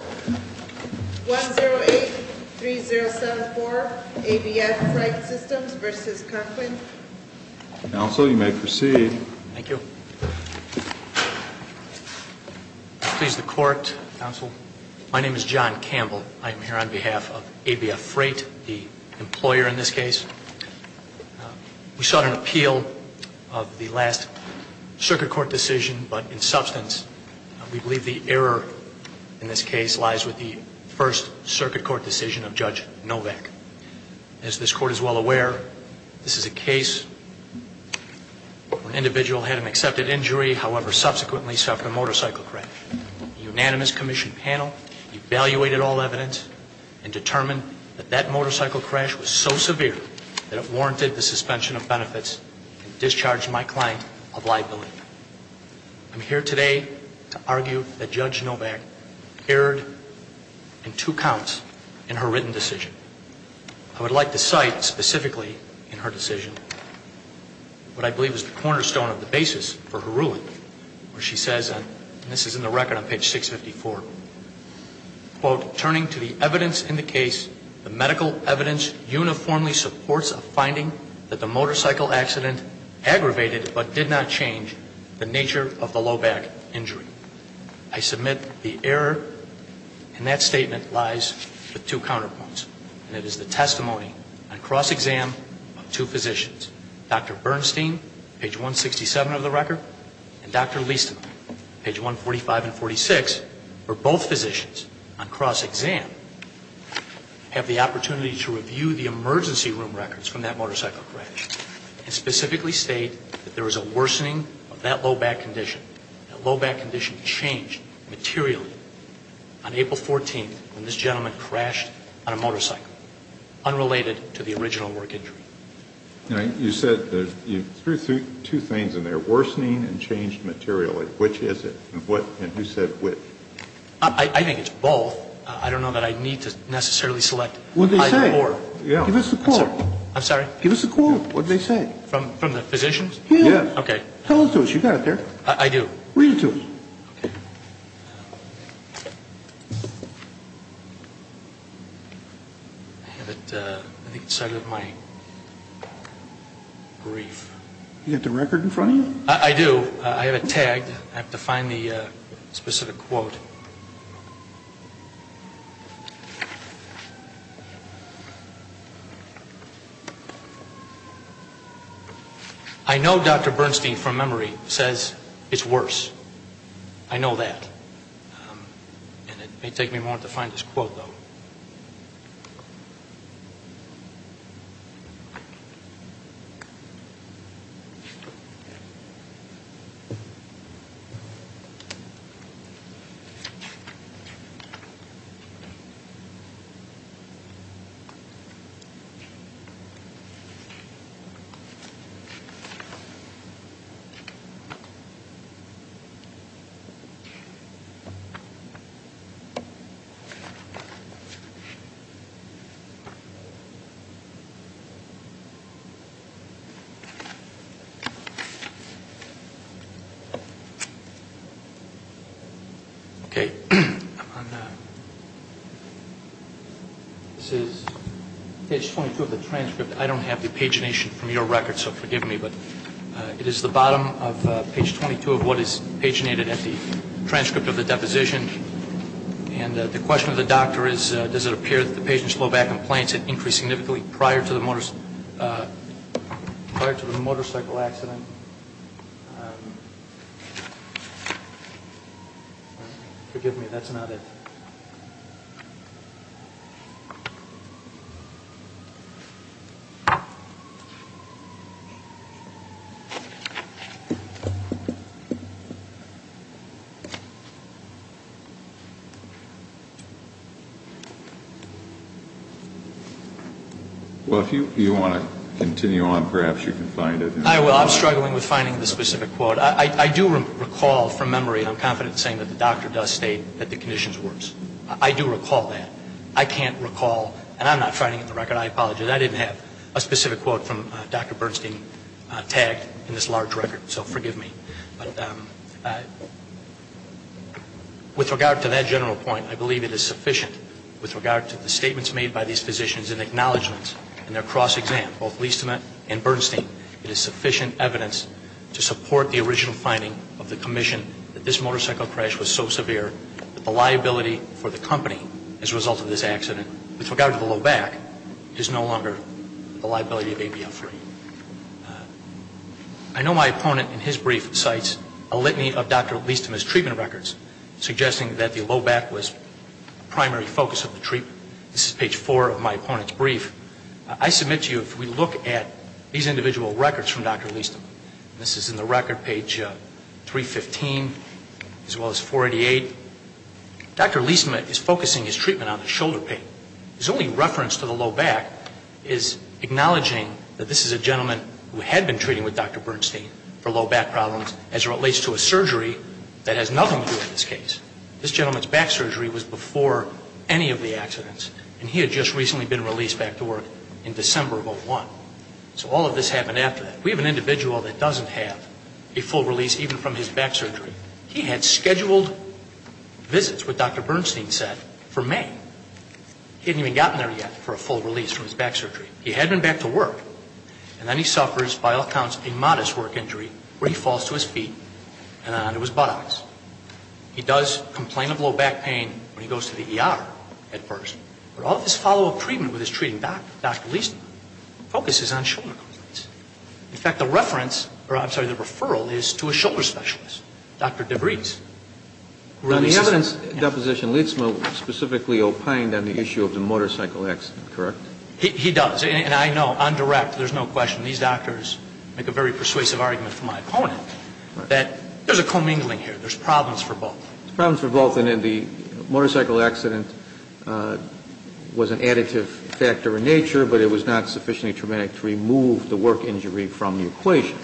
1-08-3074 ABF Freight Systems v. Conklin Counsel, you may proceed. Thank you. Please, the Court, Counsel. My name is John Campbell. I am here on behalf of ABF Freight, the employer in this case. We sought an appeal of the last Circuit Court decision, but in substance, we believe the error in this case lies with the first Circuit Court decision of Judge Novak. As this Court is well aware, this is a case where an individual had an accepted injury, however, subsequently suffered a motorcycle crash. A unanimous Commission panel evaluated all evidence and determined that that motorcycle crash was so severe that it warranted the suspension of benefits and discharged my client of liability. I'm here today to argue that Judge Novak erred in two counts in her written decision. I would like to cite specifically in her decision what I believe is the cornerstone of the basis for her ruling, where she says, and this is in the record on page 654, turning to the evidence in the case, the medical evidence uniformly supports a finding that the motorcycle accident aggravated, but did not change, the nature of the low back injury. I submit the error in that statement lies with two counterpoints, and it is the testimony on cross-exam of two physicians, Dr. Bernstein, page 167 of the record, and Dr. Liestema, page 145 and 146, where both physicians on cross-exam have the opportunity to review the emergency room records from that motorcycle crash and specifically state that there was a worsening of that low back condition, that low back condition changed materially on April 14th when this gentleman crashed on a motorcycle, unrelated to the original work injury. All right. You said you threw two things in there, worsening and changed materially. Which is it? And who said which? I think it's both. I don't know that I need to necessarily select either or. What did they say? Give us the quote. I'm sorry? Give us the quote. What did they say? From the physicians? Yes. Okay. Tell us what you got there. I do. Read it to us. Okay. I have it on the inside of my brief. Do you have the record in front of you? I do. I have it tagged. I have to find the specific quote. I know Dr. Bernstein, from memory, says it's worse. I know that. It may take me a moment to find this quote, though. This is page 22 of the transcript. I don't have the pagination from your record, so forgive me. It is the bottom of page 22 of what is paginated at the transcript of the deposition. And the question of the doctor is, does it appear that the patient's low back and planks had increased significantly prior to the motorcycle accident? Forgive me, that's not it. Well, if you want to continue on, perhaps you can find it. I will. I'm struggling with finding the specific quote. I do recall from memory, and I'm confident in saying that the doctor does state that the condition is worse. I do recall that. I can't recall, and I'm not finding it in the record. I apologize. I didn't have a specific quote from Dr. Bernstein tagged in this large record. So forgive me. But with regard to that general point, I believe it is sufficient. With regard to the statements made by these physicians and acknowledgments and their cross-exam, both Liestema and Bernstein, it is sufficient evidence to support the original finding of the commission that this motorcycle crash was so severe that the liability for the company as a result of this accident, with regard to the low back, is no longer the liability of ABF3. I know my opponent in his brief cites a litany of Dr. Liestema's treatment records, suggesting that the low back was the primary focus of the treatment. This is page 4 of my opponent's brief. I submit to you, if we look at these individual records from Dr. Liestema, and this is in the record, page 315, as well as 488, Dr. Liestema is focusing his treatment on the shoulder pain. His only reference to the low back is acknowledging that this is a gentleman who had been treating with Dr. Bernstein for low back problems, as it relates to a surgery that has nothing to do with this case. This gentleman's back surgery was before any of the accidents, and he had just recently been released back to work in December of 2001. So all of this happened after that. We have an individual that doesn't have a full release even from his back surgery. He had scheduled visits, what Dr. Bernstein said, for May. He hadn't even gotten there yet for a full release from his back surgery. He had been back to work, and then he suffers, by all counts, a modest work injury where he falls to his feet and onto his buttocks. He does complain of low back pain when he goes to the ER at first, but all of his follow-up treatment with his treating doctor, Dr. Liestema, focuses on shoulder complaints. In fact, the reference, or I'm sorry, the referral is to a shoulder specialist, Dr. DeVries. On the evidence deposition, Liestema specifically opined on the issue of the motorcycle accident, correct? He does, and I know, on direct, there's no question. These doctors make a very persuasive argument for my opponent that there's a commingling here. There's problems for both. There's problems for both. And the motorcycle accident was an additive factor in nature, but it was not sufficiently traumatic to remove the work injury from the equation.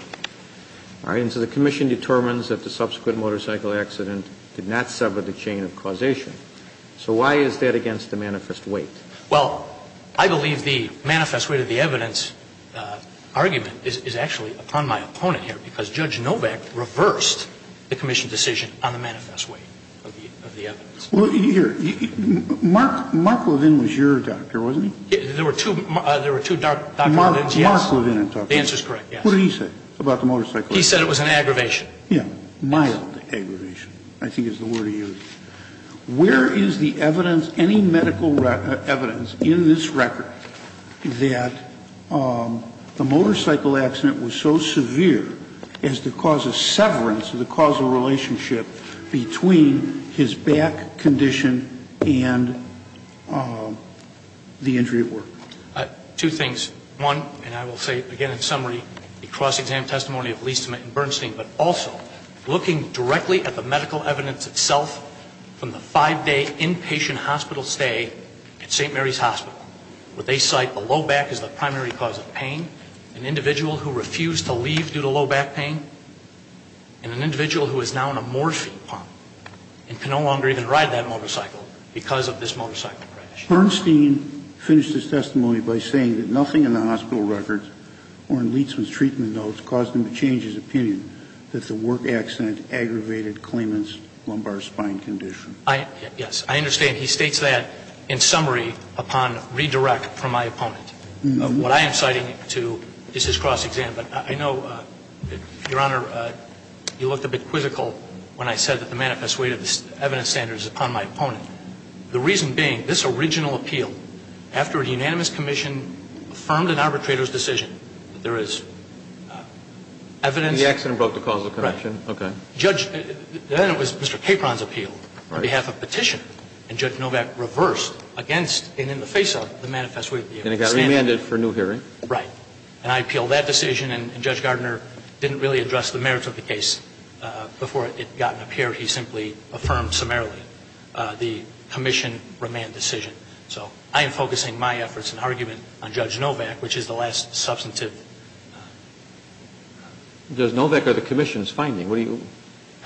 All right. And so the commission determines that the subsequent motorcycle accident did not sever the chain of causation. So why is that against the manifest weight? Well, I believe the manifest weight of the evidence argument is actually upon my side. And I believe that Dr. Kovach reversed the commission's decision on the manifest weight of the evidence. Well, here, Mark Levin was your doctor, wasn't he? There were two doctors. Mark Levin and Dr. Kovach. The answer is correct, yes. What did he say about the motorcycle accident? He said it was an aggravation. Yeah, mild aggravation, I think is the word he used. Where is the evidence, any medical evidence, in this record that the motorcycle accident was so severe as to cause a severance of the causal relationship between his back condition and the injury at work? Two things. One, and I will say it again in summary, the cross-exam testimony of Leastman and Bernstein, but also looking directly at the medical evidence itself from the five-day inpatient hospital stay at St. Mary's Hospital. What they cite, a low back is the primary cause of pain, an individual who refused to leave due to low back pain, and an individual who is now in a Morphine pump and can no longer even ride that motorcycle because of this motorcycle crash. Bernstein finished his testimony by saying that nothing in the hospital records or in Leastman's treatment notes caused him to change his opinion that the work accident aggravated Clement's lumbar spine condition. Yes, I understand. He states that in summary upon redirect from my opponent. What I am citing to is his cross-exam. But I know, Your Honor, you looked a bit quizzical when I said that the manifest weight of the evidence standard is upon my opponent. The reason being, this original appeal, after a unanimous commission affirmed an arbitrator's decision that there is evidence. The accident broke the causal connection? Right. Okay. Then it was Mr. Capron's appeal on behalf of Petitioner, and Judge Novak reversed against and in the face of the manifest weight of the evidence standard. And it got remanded for new hearing. Right. And I appealed that decision, and Judge Gardner didn't really address the merits of the case before it got up here. He simply affirmed summarily the commission remand decision. So I am focusing my efforts and argument on Judge Novak, which is the last substantive I'm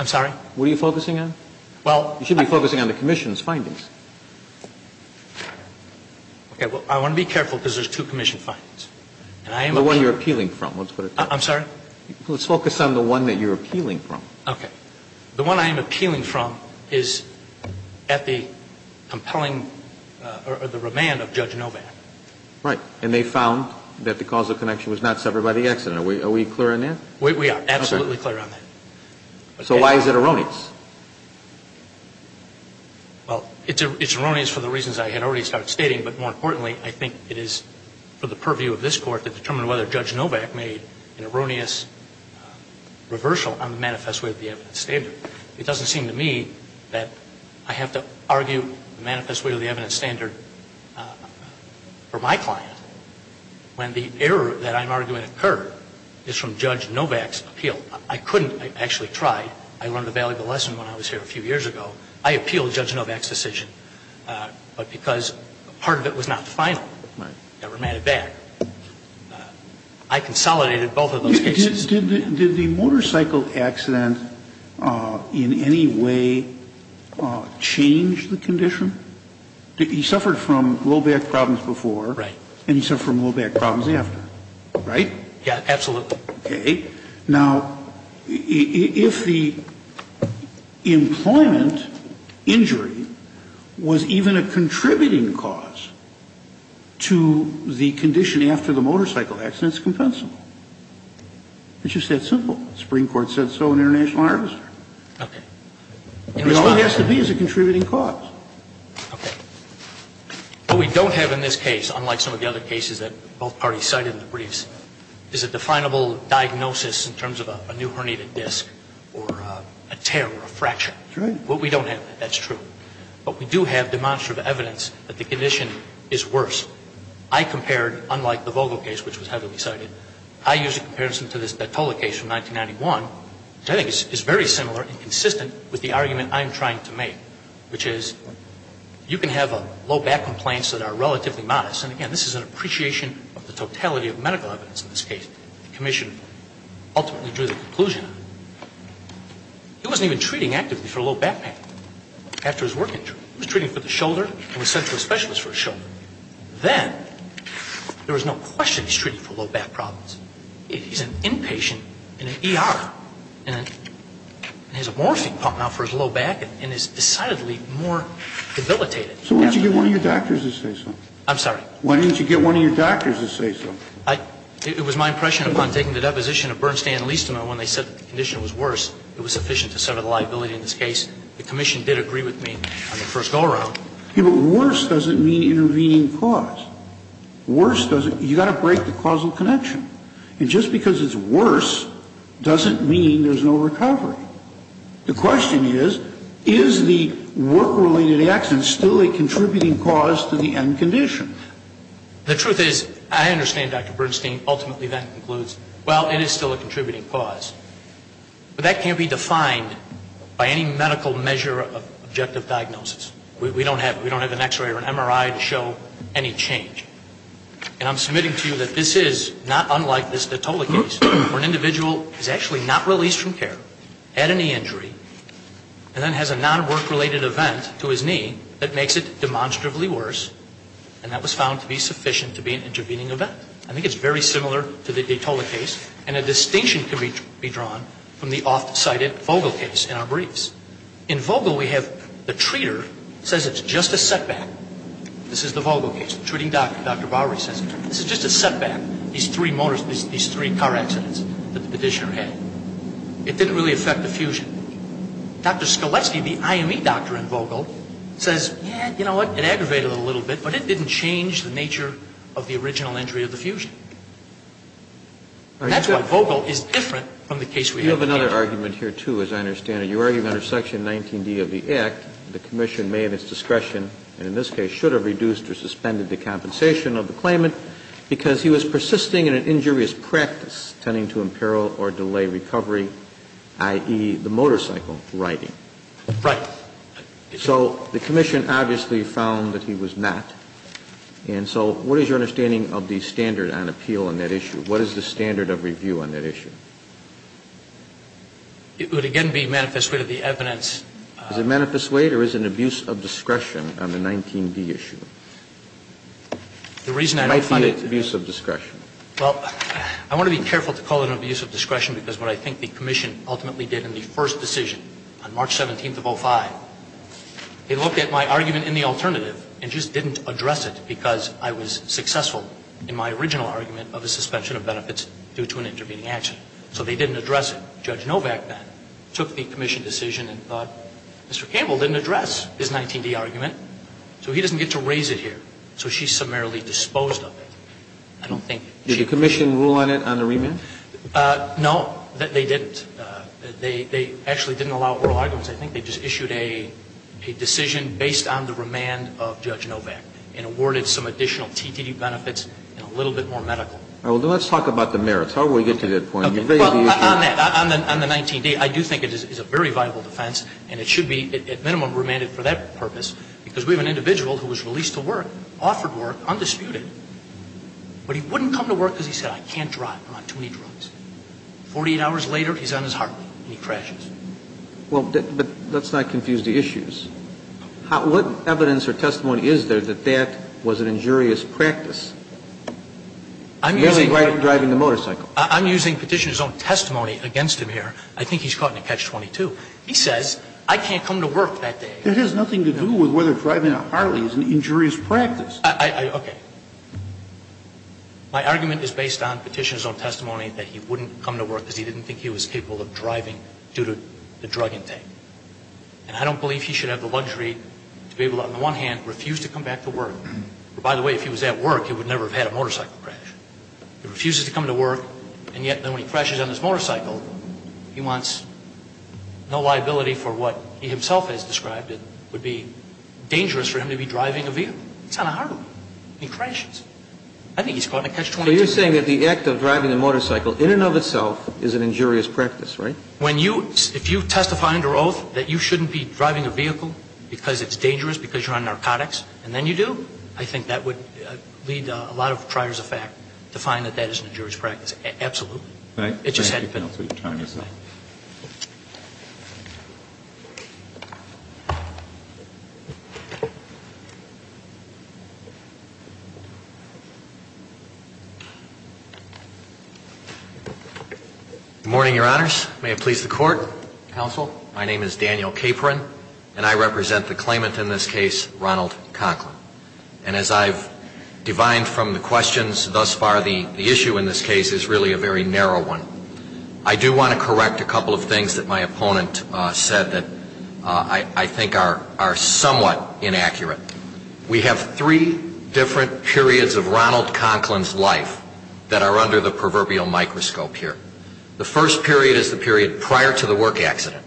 sorry? What are you focusing on? Well, You should be focusing on the commission's findings. Okay. Well, I want to be careful because there's two commission findings. And I am The one you're appealing from, let's put it that way. I'm sorry? Let's focus on the one that you're appealing from. Okay. The one I am appealing from is at the compelling or the remand of Judge Novak. Right. And they found that the causal connection was not severed by the accident. Are we clear on that? We are absolutely clear on that. So why is it erroneous? Well, it's erroneous for the reasons I had already started stating. But more importantly, I think it is for the purview of this Court to determine whether Judge Novak made an erroneous reversal on the manifest weight of the evidence standard. I think it is for the purview of this Court to determine whether Judge Novak made an erroneous reversal on the manifest weight of the evidence standard for my client when the error that I'm arguing occurred is from Judge Novak's appeal. I couldn't. I actually tried. I learned a valuable lesson when I was here a few years ago. I appealed Judge Novak's decision. But because part of it was not final. Right. Never made it back. I consolidated both of those cases. Did the motorcycle accident in any way change the condition? He suffered from low back problems before. Right. And he suffered from low back problems after. Right? Yeah, absolutely. Okay. Now, if the employment injury was even a contributing cause to the condition after the motorcycle accident, it's compensable. It's just that simple. The Supreme Court said so in International Harvester. Okay. All it has to be is a contributing cause. Okay. What we don't have in this case, unlike some of the other cases that both parties cited in the briefs, is a definable diagnosis in terms of a new herniated disc or a tear or a fracture. That's right. What we don't have, that's true. But we do have demonstrative evidence that the condition is worse. I compared, unlike the Vogel case, which was heavily cited, I used a comparison to this Battola case from 1991, which I think is very similar and consistent with the argument I'm trying to make, which is you can have low back complaints that are relatively modest. And, again, this is an appreciation of the totality of medical evidence in this case. The commission ultimately drew the conclusion. He wasn't even treating actively for a low back pain after his work injury. He was treating for the shoulder and was sent to a specialist for his shoulder. Then there was no question he was treating for low back problems. He's an inpatient in an ER and has a morphing pump out for his low back and is decidedly more debilitated. So why didn't you get one of your doctors to say so? I'm sorry? Why didn't you get one of your doctors to say so? It was my impression upon taking the deposition of Bernstein and Liesterman when they said the condition was worse, it was sufficient to settle the liability in this case. The commission did agree with me on the first go-around. Worse doesn't mean intervening cause. Worse doesn't. You've got to break the causal connection. And just because it's worse doesn't mean there's no recovery. The question is, is the work-related accident still a contributing cause to the end condition? The truth is, I understand, Dr. Bernstein, ultimately that concludes, well, it is still a contributing cause. But that can't be defined by any medical measure of objective diagnosis. We don't have an x-ray or an MRI to show any change. And I'm submitting to you that this is not unlike this Datola case, where an individual is actually not released from care, had a knee injury, and then has a non-work-related event to his knee that makes it demonstrably worse, and that was found to be sufficient to be an intervening event. I think it's very similar to the Datola case, and a distinction can be drawn from the oft-cited Vogel case in our briefs. In Vogel, we have the treater says it's just a setback. This is the Vogel case. The treating doctor, Dr. Bowery, says, this is just a setback, these three car accidents that the petitioner had. It didn't really affect the fusion. Dr. Skolecki, the IME doctor in Vogel, says, yeah, you know what, it aggravated it a little bit, but it didn't change the nature of the original injury of the fusion. And that's why Vogel is different from the case we have. I have another argument here, too, as I understand it. You're arguing under section 19D of the Act, the commission made its discretion and in this case should have reduced or suspended the compensation of the claimant because he was persisting in an injurious practice tending to imperil or delay recovery, i.e., the motorcycle riding. Right. So the commission obviously found that he was not. And so what is your understanding of the standard on appeal on that issue? What is the standard of review on that issue? It would again be manifest weight of the evidence. Is it manifest weight or is it an abuse of discretion on the 19D issue? It might be an abuse of discretion. Well, I want to be careful to call it an abuse of discretion because what I think the commission ultimately did in the first decision on March 17th of 05, they looked at my argument in the alternative and just didn't address it because I was successful in my original argument of the suspension of benefits due to an intervening action. So they didn't address it. Judge Novak then took the commission decision and thought, Mr. Campbell didn't address his 19D argument, so he doesn't get to raise it here. So she's summarily disposed of it. I don't think she was. Did the commission rule on it on the remand? No, they didn't. They actually didn't allow oral arguments. I think they just issued a decision based on the remand of Judge Novak and awarded some additional TDD benefits and a little bit more medical. Well, let's talk about the merits. How do we get to that point? Well, on that, on the 19D, I do think it is a very viable defense and it should be at minimum remanded for that purpose because we have an individual who was released to work, offered work, undisputed, but he wouldn't come to work because he said, I can't drive, I'm on too many drugs. 48 hours later, he's on his heartbeat and he crashes. Well, but let's not confuse the issues. What evidence or testimony is there that that was an injurious practice, merely driving the motorcycle? I'm using Petitioner's own testimony against him here. I think he's caught in a catch-22. He says, I can't come to work that day. That has nothing to do with whether driving a Harley is an injurious practice. Okay. My argument is based on Petitioner's own testimony that he wouldn't come to work because he didn't think he was capable of driving due to the drug intake. And I don't believe he should have the luxury to be able to, on the one hand, refuse to come back to work. By the way, if he was at work, he would never have had a motorcycle crash. He refuses to come to work, and yet when he crashes on his motorcycle, he wants no liability for what he himself has described would be dangerous for him to be driving a vehicle. It's not a Harley. He crashes. I think he's caught in a catch-22. So you're saying that the act of driving a motorcycle in and of itself is an injurious practice, right? When you, if you testify under oath that you shouldn't be driving a vehicle because it's dangerous, because you're on narcotics, and then you do, I think that would lead a lot of triers of fact to find that that is an injurious practice. Absolutely. Right. It just had to be. Thank you for your time, Your Honor. Good morning, Your Honors. May it please the Court, Counsel. My name is Daniel Capron, and I represent the claimant in this case, Ronald Conklin. And as I've divined from the questions thus far, the issue in this case is really a very narrow one. I do want to correct a couple of things that my opponent said that I think are somewhat inaccurate. We have three different periods of Ronald Conklin's life that are under the proverbial microscope here. The first period is the period prior to the work accident.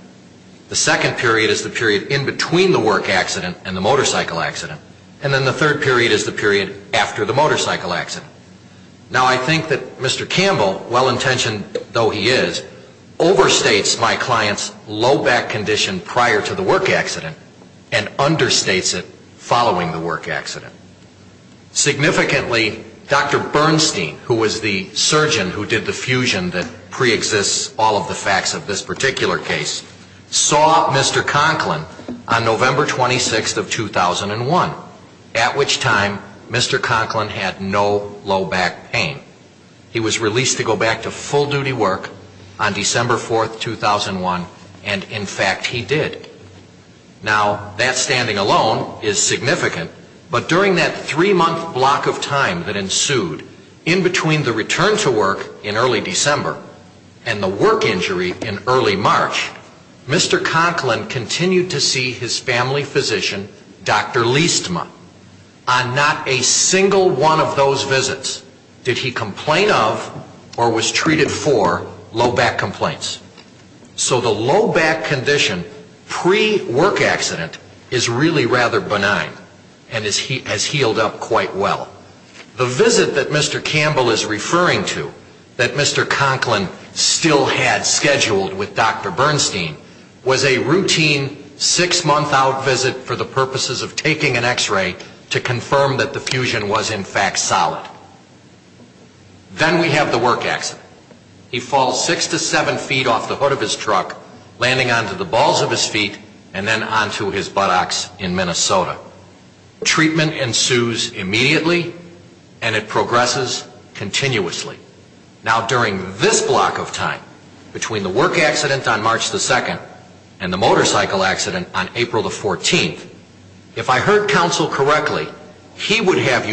The second period is the period in between the work accident and the motorcycle accident. And then the third period is the period after the motorcycle accident. Now, I think that Mr. Campbell, well-intentioned though he is, overstates my client's low back condition prior to the work accident and understates it following the work accident. Significantly, Dr. Bernstein, who was the surgeon who did the fusion that preexists all of the facts of this particular case, saw Mr. Conklin on November 26th of 2001, at which time Mr. Conklin had no low back pain. He was released to go back to full-duty work on December 4th, 2001, and in fact he did. Now, that standing alone is significant, but during that three-month block of time that ensued in between the return to work in early December and the work injury in early March, Mr. Conklin continued to see his family physician, Dr. Liestma, on not a single one of those visits did he complain of or was treated for low back complaints. So the low back condition pre-work accident is really rather benign and has healed up quite well. The visit that Mr. Campbell is referring to, that Mr. Conklin still had scheduled with Dr. Bernstein, was a routine six-month out visit for the purposes of taking an x-ray to confirm that the fusion was in fact solid. Then we have the work accident. He falls six to seven feet off the hood of his truck, landing onto the balls of his feet and then onto his buttocks in Minnesota. Treatment ensues immediately and it progresses continuously. Now, during this block of time, between the work accident on March 2nd and the motorcycle accident on April 14th, if I heard counsel correctly, he would have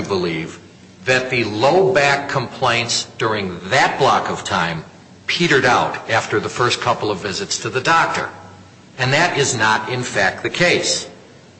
that the low back complaints during that block of time petered out after the first couple of visits to the doctor. And that is not, in fact, the case.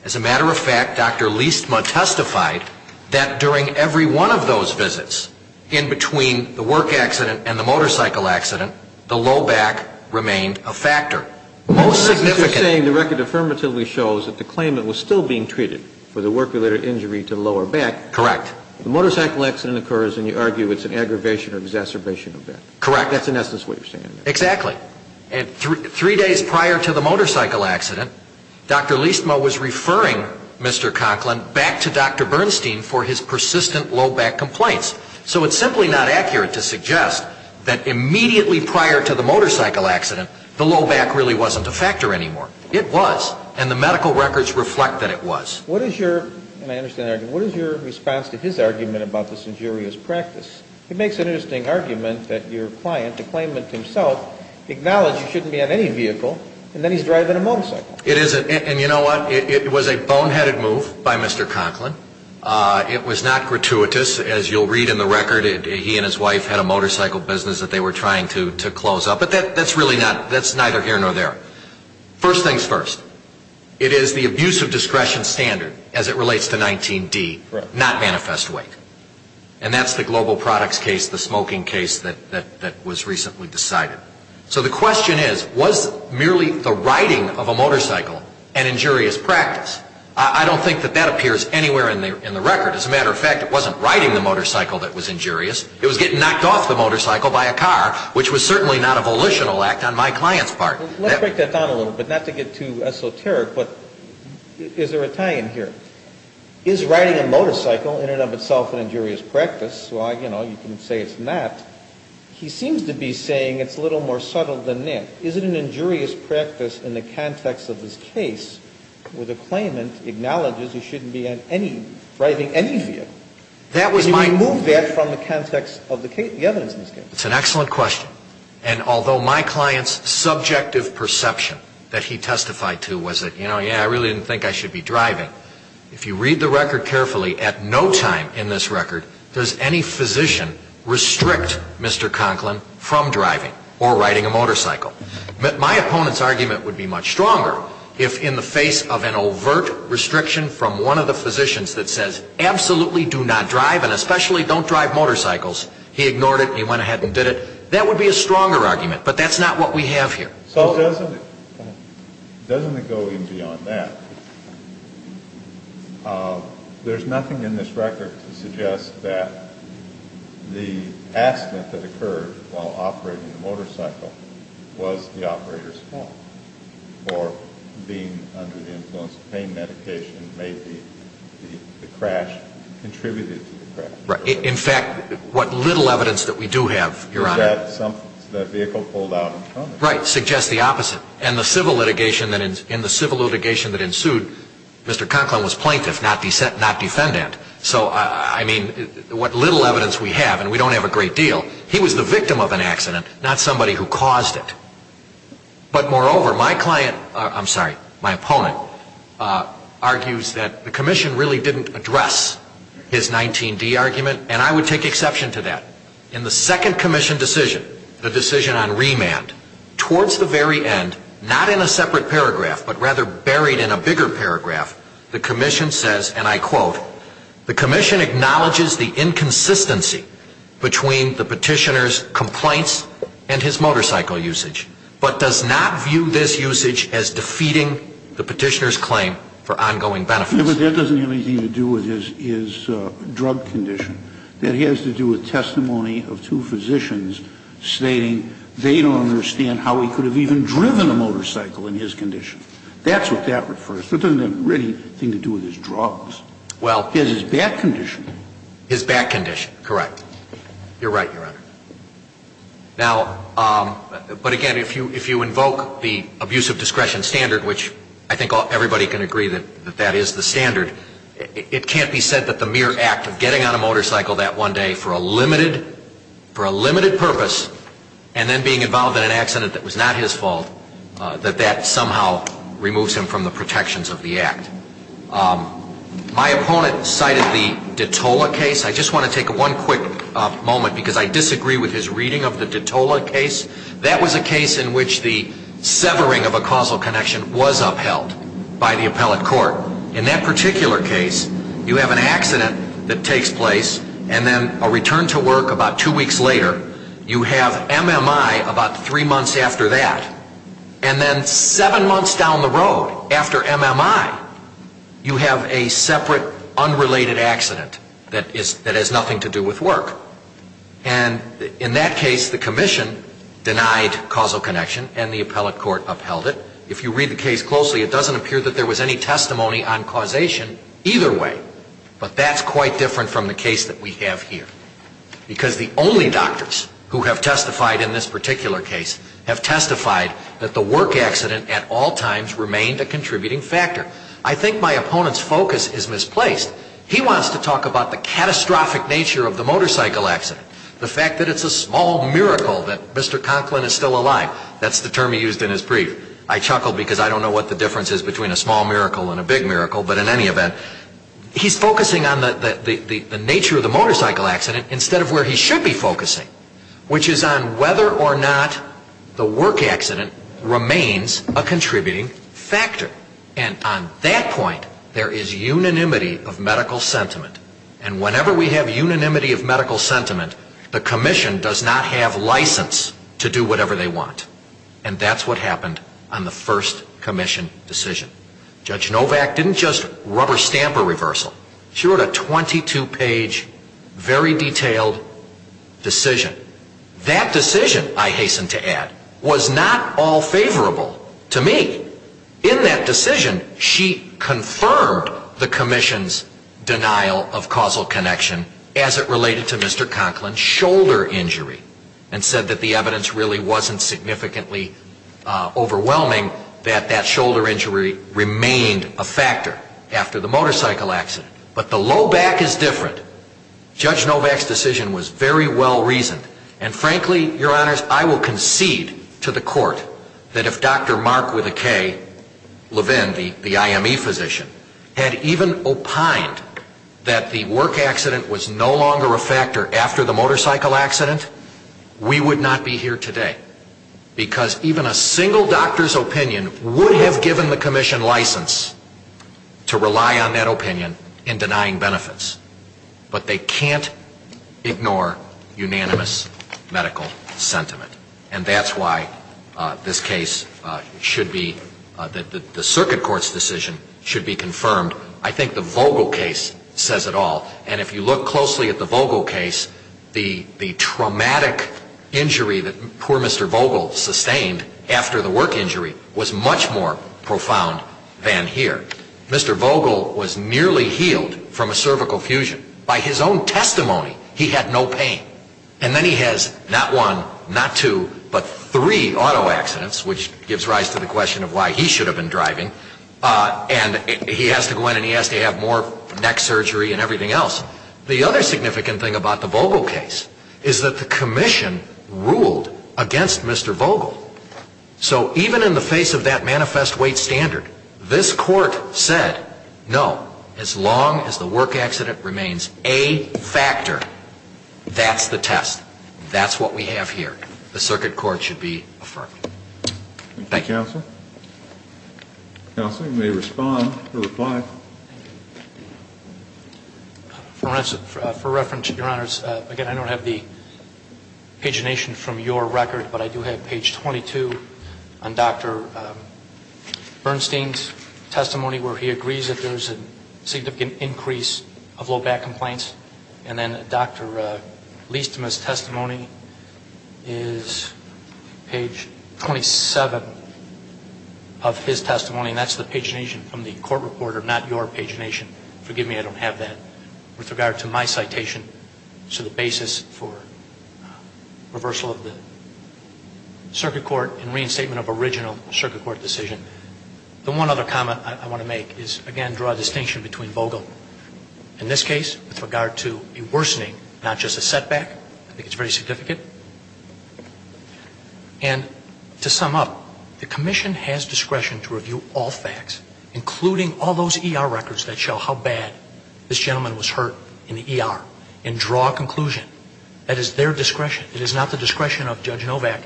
As a matter of fact, Dr. Liestma testified that during every one of those visits in between the work accident and the motorcycle accident, the low back remained a factor. Most significantly the record affirmatively shows that the claimant was still being treated for the work-related injury to the lower back. Correct. The motorcycle accident occurs and you argue it's an aggravation or exacerbation of that. Correct. That's in essence what you're saying. Exactly. And three days prior to the motorcycle accident, Dr. Liestma was referring Mr. Conklin back to Dr. Bernstein for his persistent low back complaints. So it's simply not accurate to suggest that immediately prior to the motorcycle accident, the low back really wasn't a factor anymore. It was. And the medical records reflect that it was. What is your response to his argument about this injurious practice? It makes an interesting argument that your client, the claimant himself, acknowledged you shouldn't be on any vehicle and then he's driving a motorcycle. It is. And you know what? It was a boneheaded move by Mr. Conklin. It was not gratuitous. As you'll read in the record, he and his wife had a motorcycle business that they were trying to close up. But that's neither here nor there. First thing's first, it is the abuse of discretion standard as it relates to 19D, not manifest weight. And that's the global products case, the smoking case that was recently decided. So the question is, was merely the riding of a motorcycle an injurious practice? I don't think that that appears anywhere in the record. As a matter of fact, it wasn't riding the motorcycle that was injurious. It was getting knocked off the motorcycle by a car, which was certainly not a volitional act on my client's part. Let's break that down a little bit. Not to get too esoteric, but is there a tie-in here? Is riding a motorcycle in and of itself an injurious practice? Well, you know, you can say it's not. He seems to be saying it's a little more subtle than that. Is it an injurious practice in the context of this case where the claimant acknowledges you shouldn't be on any, driving any vehicle? That was my move. Can you remove that from the context of the evidence in this case? It's an excellent question. And although my client's subjective perception that he testified to was that, you know, yeah, I really didn't think I should be driving, if you read the record carefully, at no time in this record does any physician restrict Mr. Conklin from driving or riding a motorcycle. My opponent's argument would be much stronger if, in the face of an overt restriction from one of the physicians that says, absolutely do not drive and especially don't drive motorcycles, he ignored it and he went ahead and did it. That would be a stronger argument, but that's not what we have here. So doesn't it go even beyond that? There's nothing in this record to suggest that the accident that occurred while operating the motorcycle was the operator's fault for being under the influence of pain medication and maybe the crash contributed to the crash. In fact, what little evidence that we do have, Your Honor. That vehicle pulled out. Right. Suggests the opposite. And the civil litigation that ensued, Mr. Conklin was plaintiff, not defendant. So, I mean, what little evidence we have, and we don't have a great deal, he was the victim of an accident, not somebody who caused it. argues that the commission really didn't address his 19D argument, and I would take exception to that. In the second commission decision, the decision on remand, towards the very end, not in a separate paragraph, but rather buried in a bigger paragraph, the commission says, and I quote, the commission acknowledges the inconsistency between the petitioner's complaints and his motorcycle usage, but does not view this usage as defeating the petitioner's claim for ongoing benefits. But that doesn't have anything to do with his drug condition. That has to do with testimony of two physicians stating they don't understand how he could have even driven a motorcycle in his condition. That's what that refers to. It doesn't have anything to do with his drugs. Well. His back condition. His back condition, correct. You're right, Your Honor. Now, but again, if you invoke the abuse of discretion standard, which I think everybody can agree that that is the standard, it can't be said that the mere act of getting on a motorcycle that one day for a limited purpose and then being involved in an accident that was not his fault, that that somehow removes him from the protections of the act. My opponent cited the Detola case. I just want to take one quick moment because I disagree with his reading of the Detola case. That was a case in which the severing of a causal connection was upheld by the appellate court. In that particular case, you have an accident that takes place and then a return to work about two weeks later. You have MMI about three months after that. And then seven months down the road after MMI, you have a separate unrelated accident that has nothing to do with work. And in that case, the commission denied causal connection and the appellate court upheld it. If you read the case closely, it doesn't appear that there was any testimony on causation either way. But that's quite different from the case that we have here. Because the only doctors who have testified in this particular case have testified that the work accident at all times remained a contributing factor. I think my opponent's focus is misplaced. He wants to talk about the catastrophic nature of the motorcycle accident, the fact that it's a small miracle that Mr. Conklin is still alive. That's the term he used in his brief. I chuckled because I don't know what the difference is between a small miracle and a big miracle. But in any event, he's focusing on the nature of the motorcycle accident instead of where he should be focusing, which is on whether or not the work accident remains a contributing factor. And on that point, there is unanimity of medical sentiment. And whenever we have unanimity of medical sentiment, the commission does not have license to do whatever they want. And that's what happened on the first commission decision. Judge Novak didn't just rubber stamp a reversal. She wrote a 22-page, very detailed decision. That decision, I hasten to add, was not all favorable to me. In that decision, she confirmed the commission's denial of causal connection as it related to Mr. Conklin's shoulder injury and said that the evidence really wasn't significantly overwhelming, that that shoulder injury remained a factor after the motorcycle accident. But the low back is different. Judge Novak's decision was very well-reasoned. And frankly, your honors, I will concede to the court that if Dr. Mark Levin, the IME physician, had even opined that the work accident was no longer a factor after the motorcycle accident, we would not be here today. Because even a single doctor's opinion would have given the commission license to rely on that opinion in denying benefits. But they can't ignore unanimous medical sentiment. And that's why this case should be, the circuit court's decision should be confirmed. I think the Vogel case says it all. And if you look closely at the Vogel case, the traumatic injury that poor Mr. Vogel sustained after the work injury was much more profound than here. Mr. Vogel was nearly healed from a cervical fusion. By his own testimony, he had no pain. And then he has not one, not two, but three auto accidents, which gives rise to the question of why he should have been driving. And he has to go in and he has to have more neck surgery and everything else. The other significant thing about the Vogel case is that the commission ruled against Mr. Vogel. So even in the face of that manifest weight standard, this court said, no, as long as the work accident remains a factor, that's the test. That's what we have here. The circuit court should be affirmed. Thank you. Counsel? Counsel, you may respond or reply. For reference, Your Honors, again, I don't have the pagination from your record, but I do have page 22 on Dr. Bernstein's testimony, where he agrees that there's a significant increase of low back complaints. And then Dr. Liestema's testimony is page 27 of his testimony, and that's the pagination from the court report, or not your pagination. Forgive me, I don't have that. With regard to my citation, so the basis for reversal of the circuit court and reinstatement of original circuit court decision. The one other comment I want to make is, again, draw a distinction between Vogel. In this case, with regard to a worsening, not just a setback, I think it's very significant. And to sum up, the commission has discretion to review all facts, including all those ER records that show how bad this gentleman was hurt in the ER, and draw a conclusion. That is their discretion. It is not the discretion of Judge Novak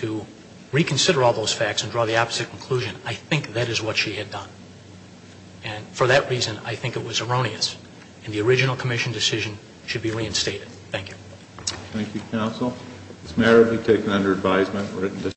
to reconsider all those facts and draw the opposite conclusion. I think that is what she had done. And for that reason, I think it was erroneous. And the original commission decision should be reinstated. Thank you. Thank you, counsel. This matter to be taken under advisement.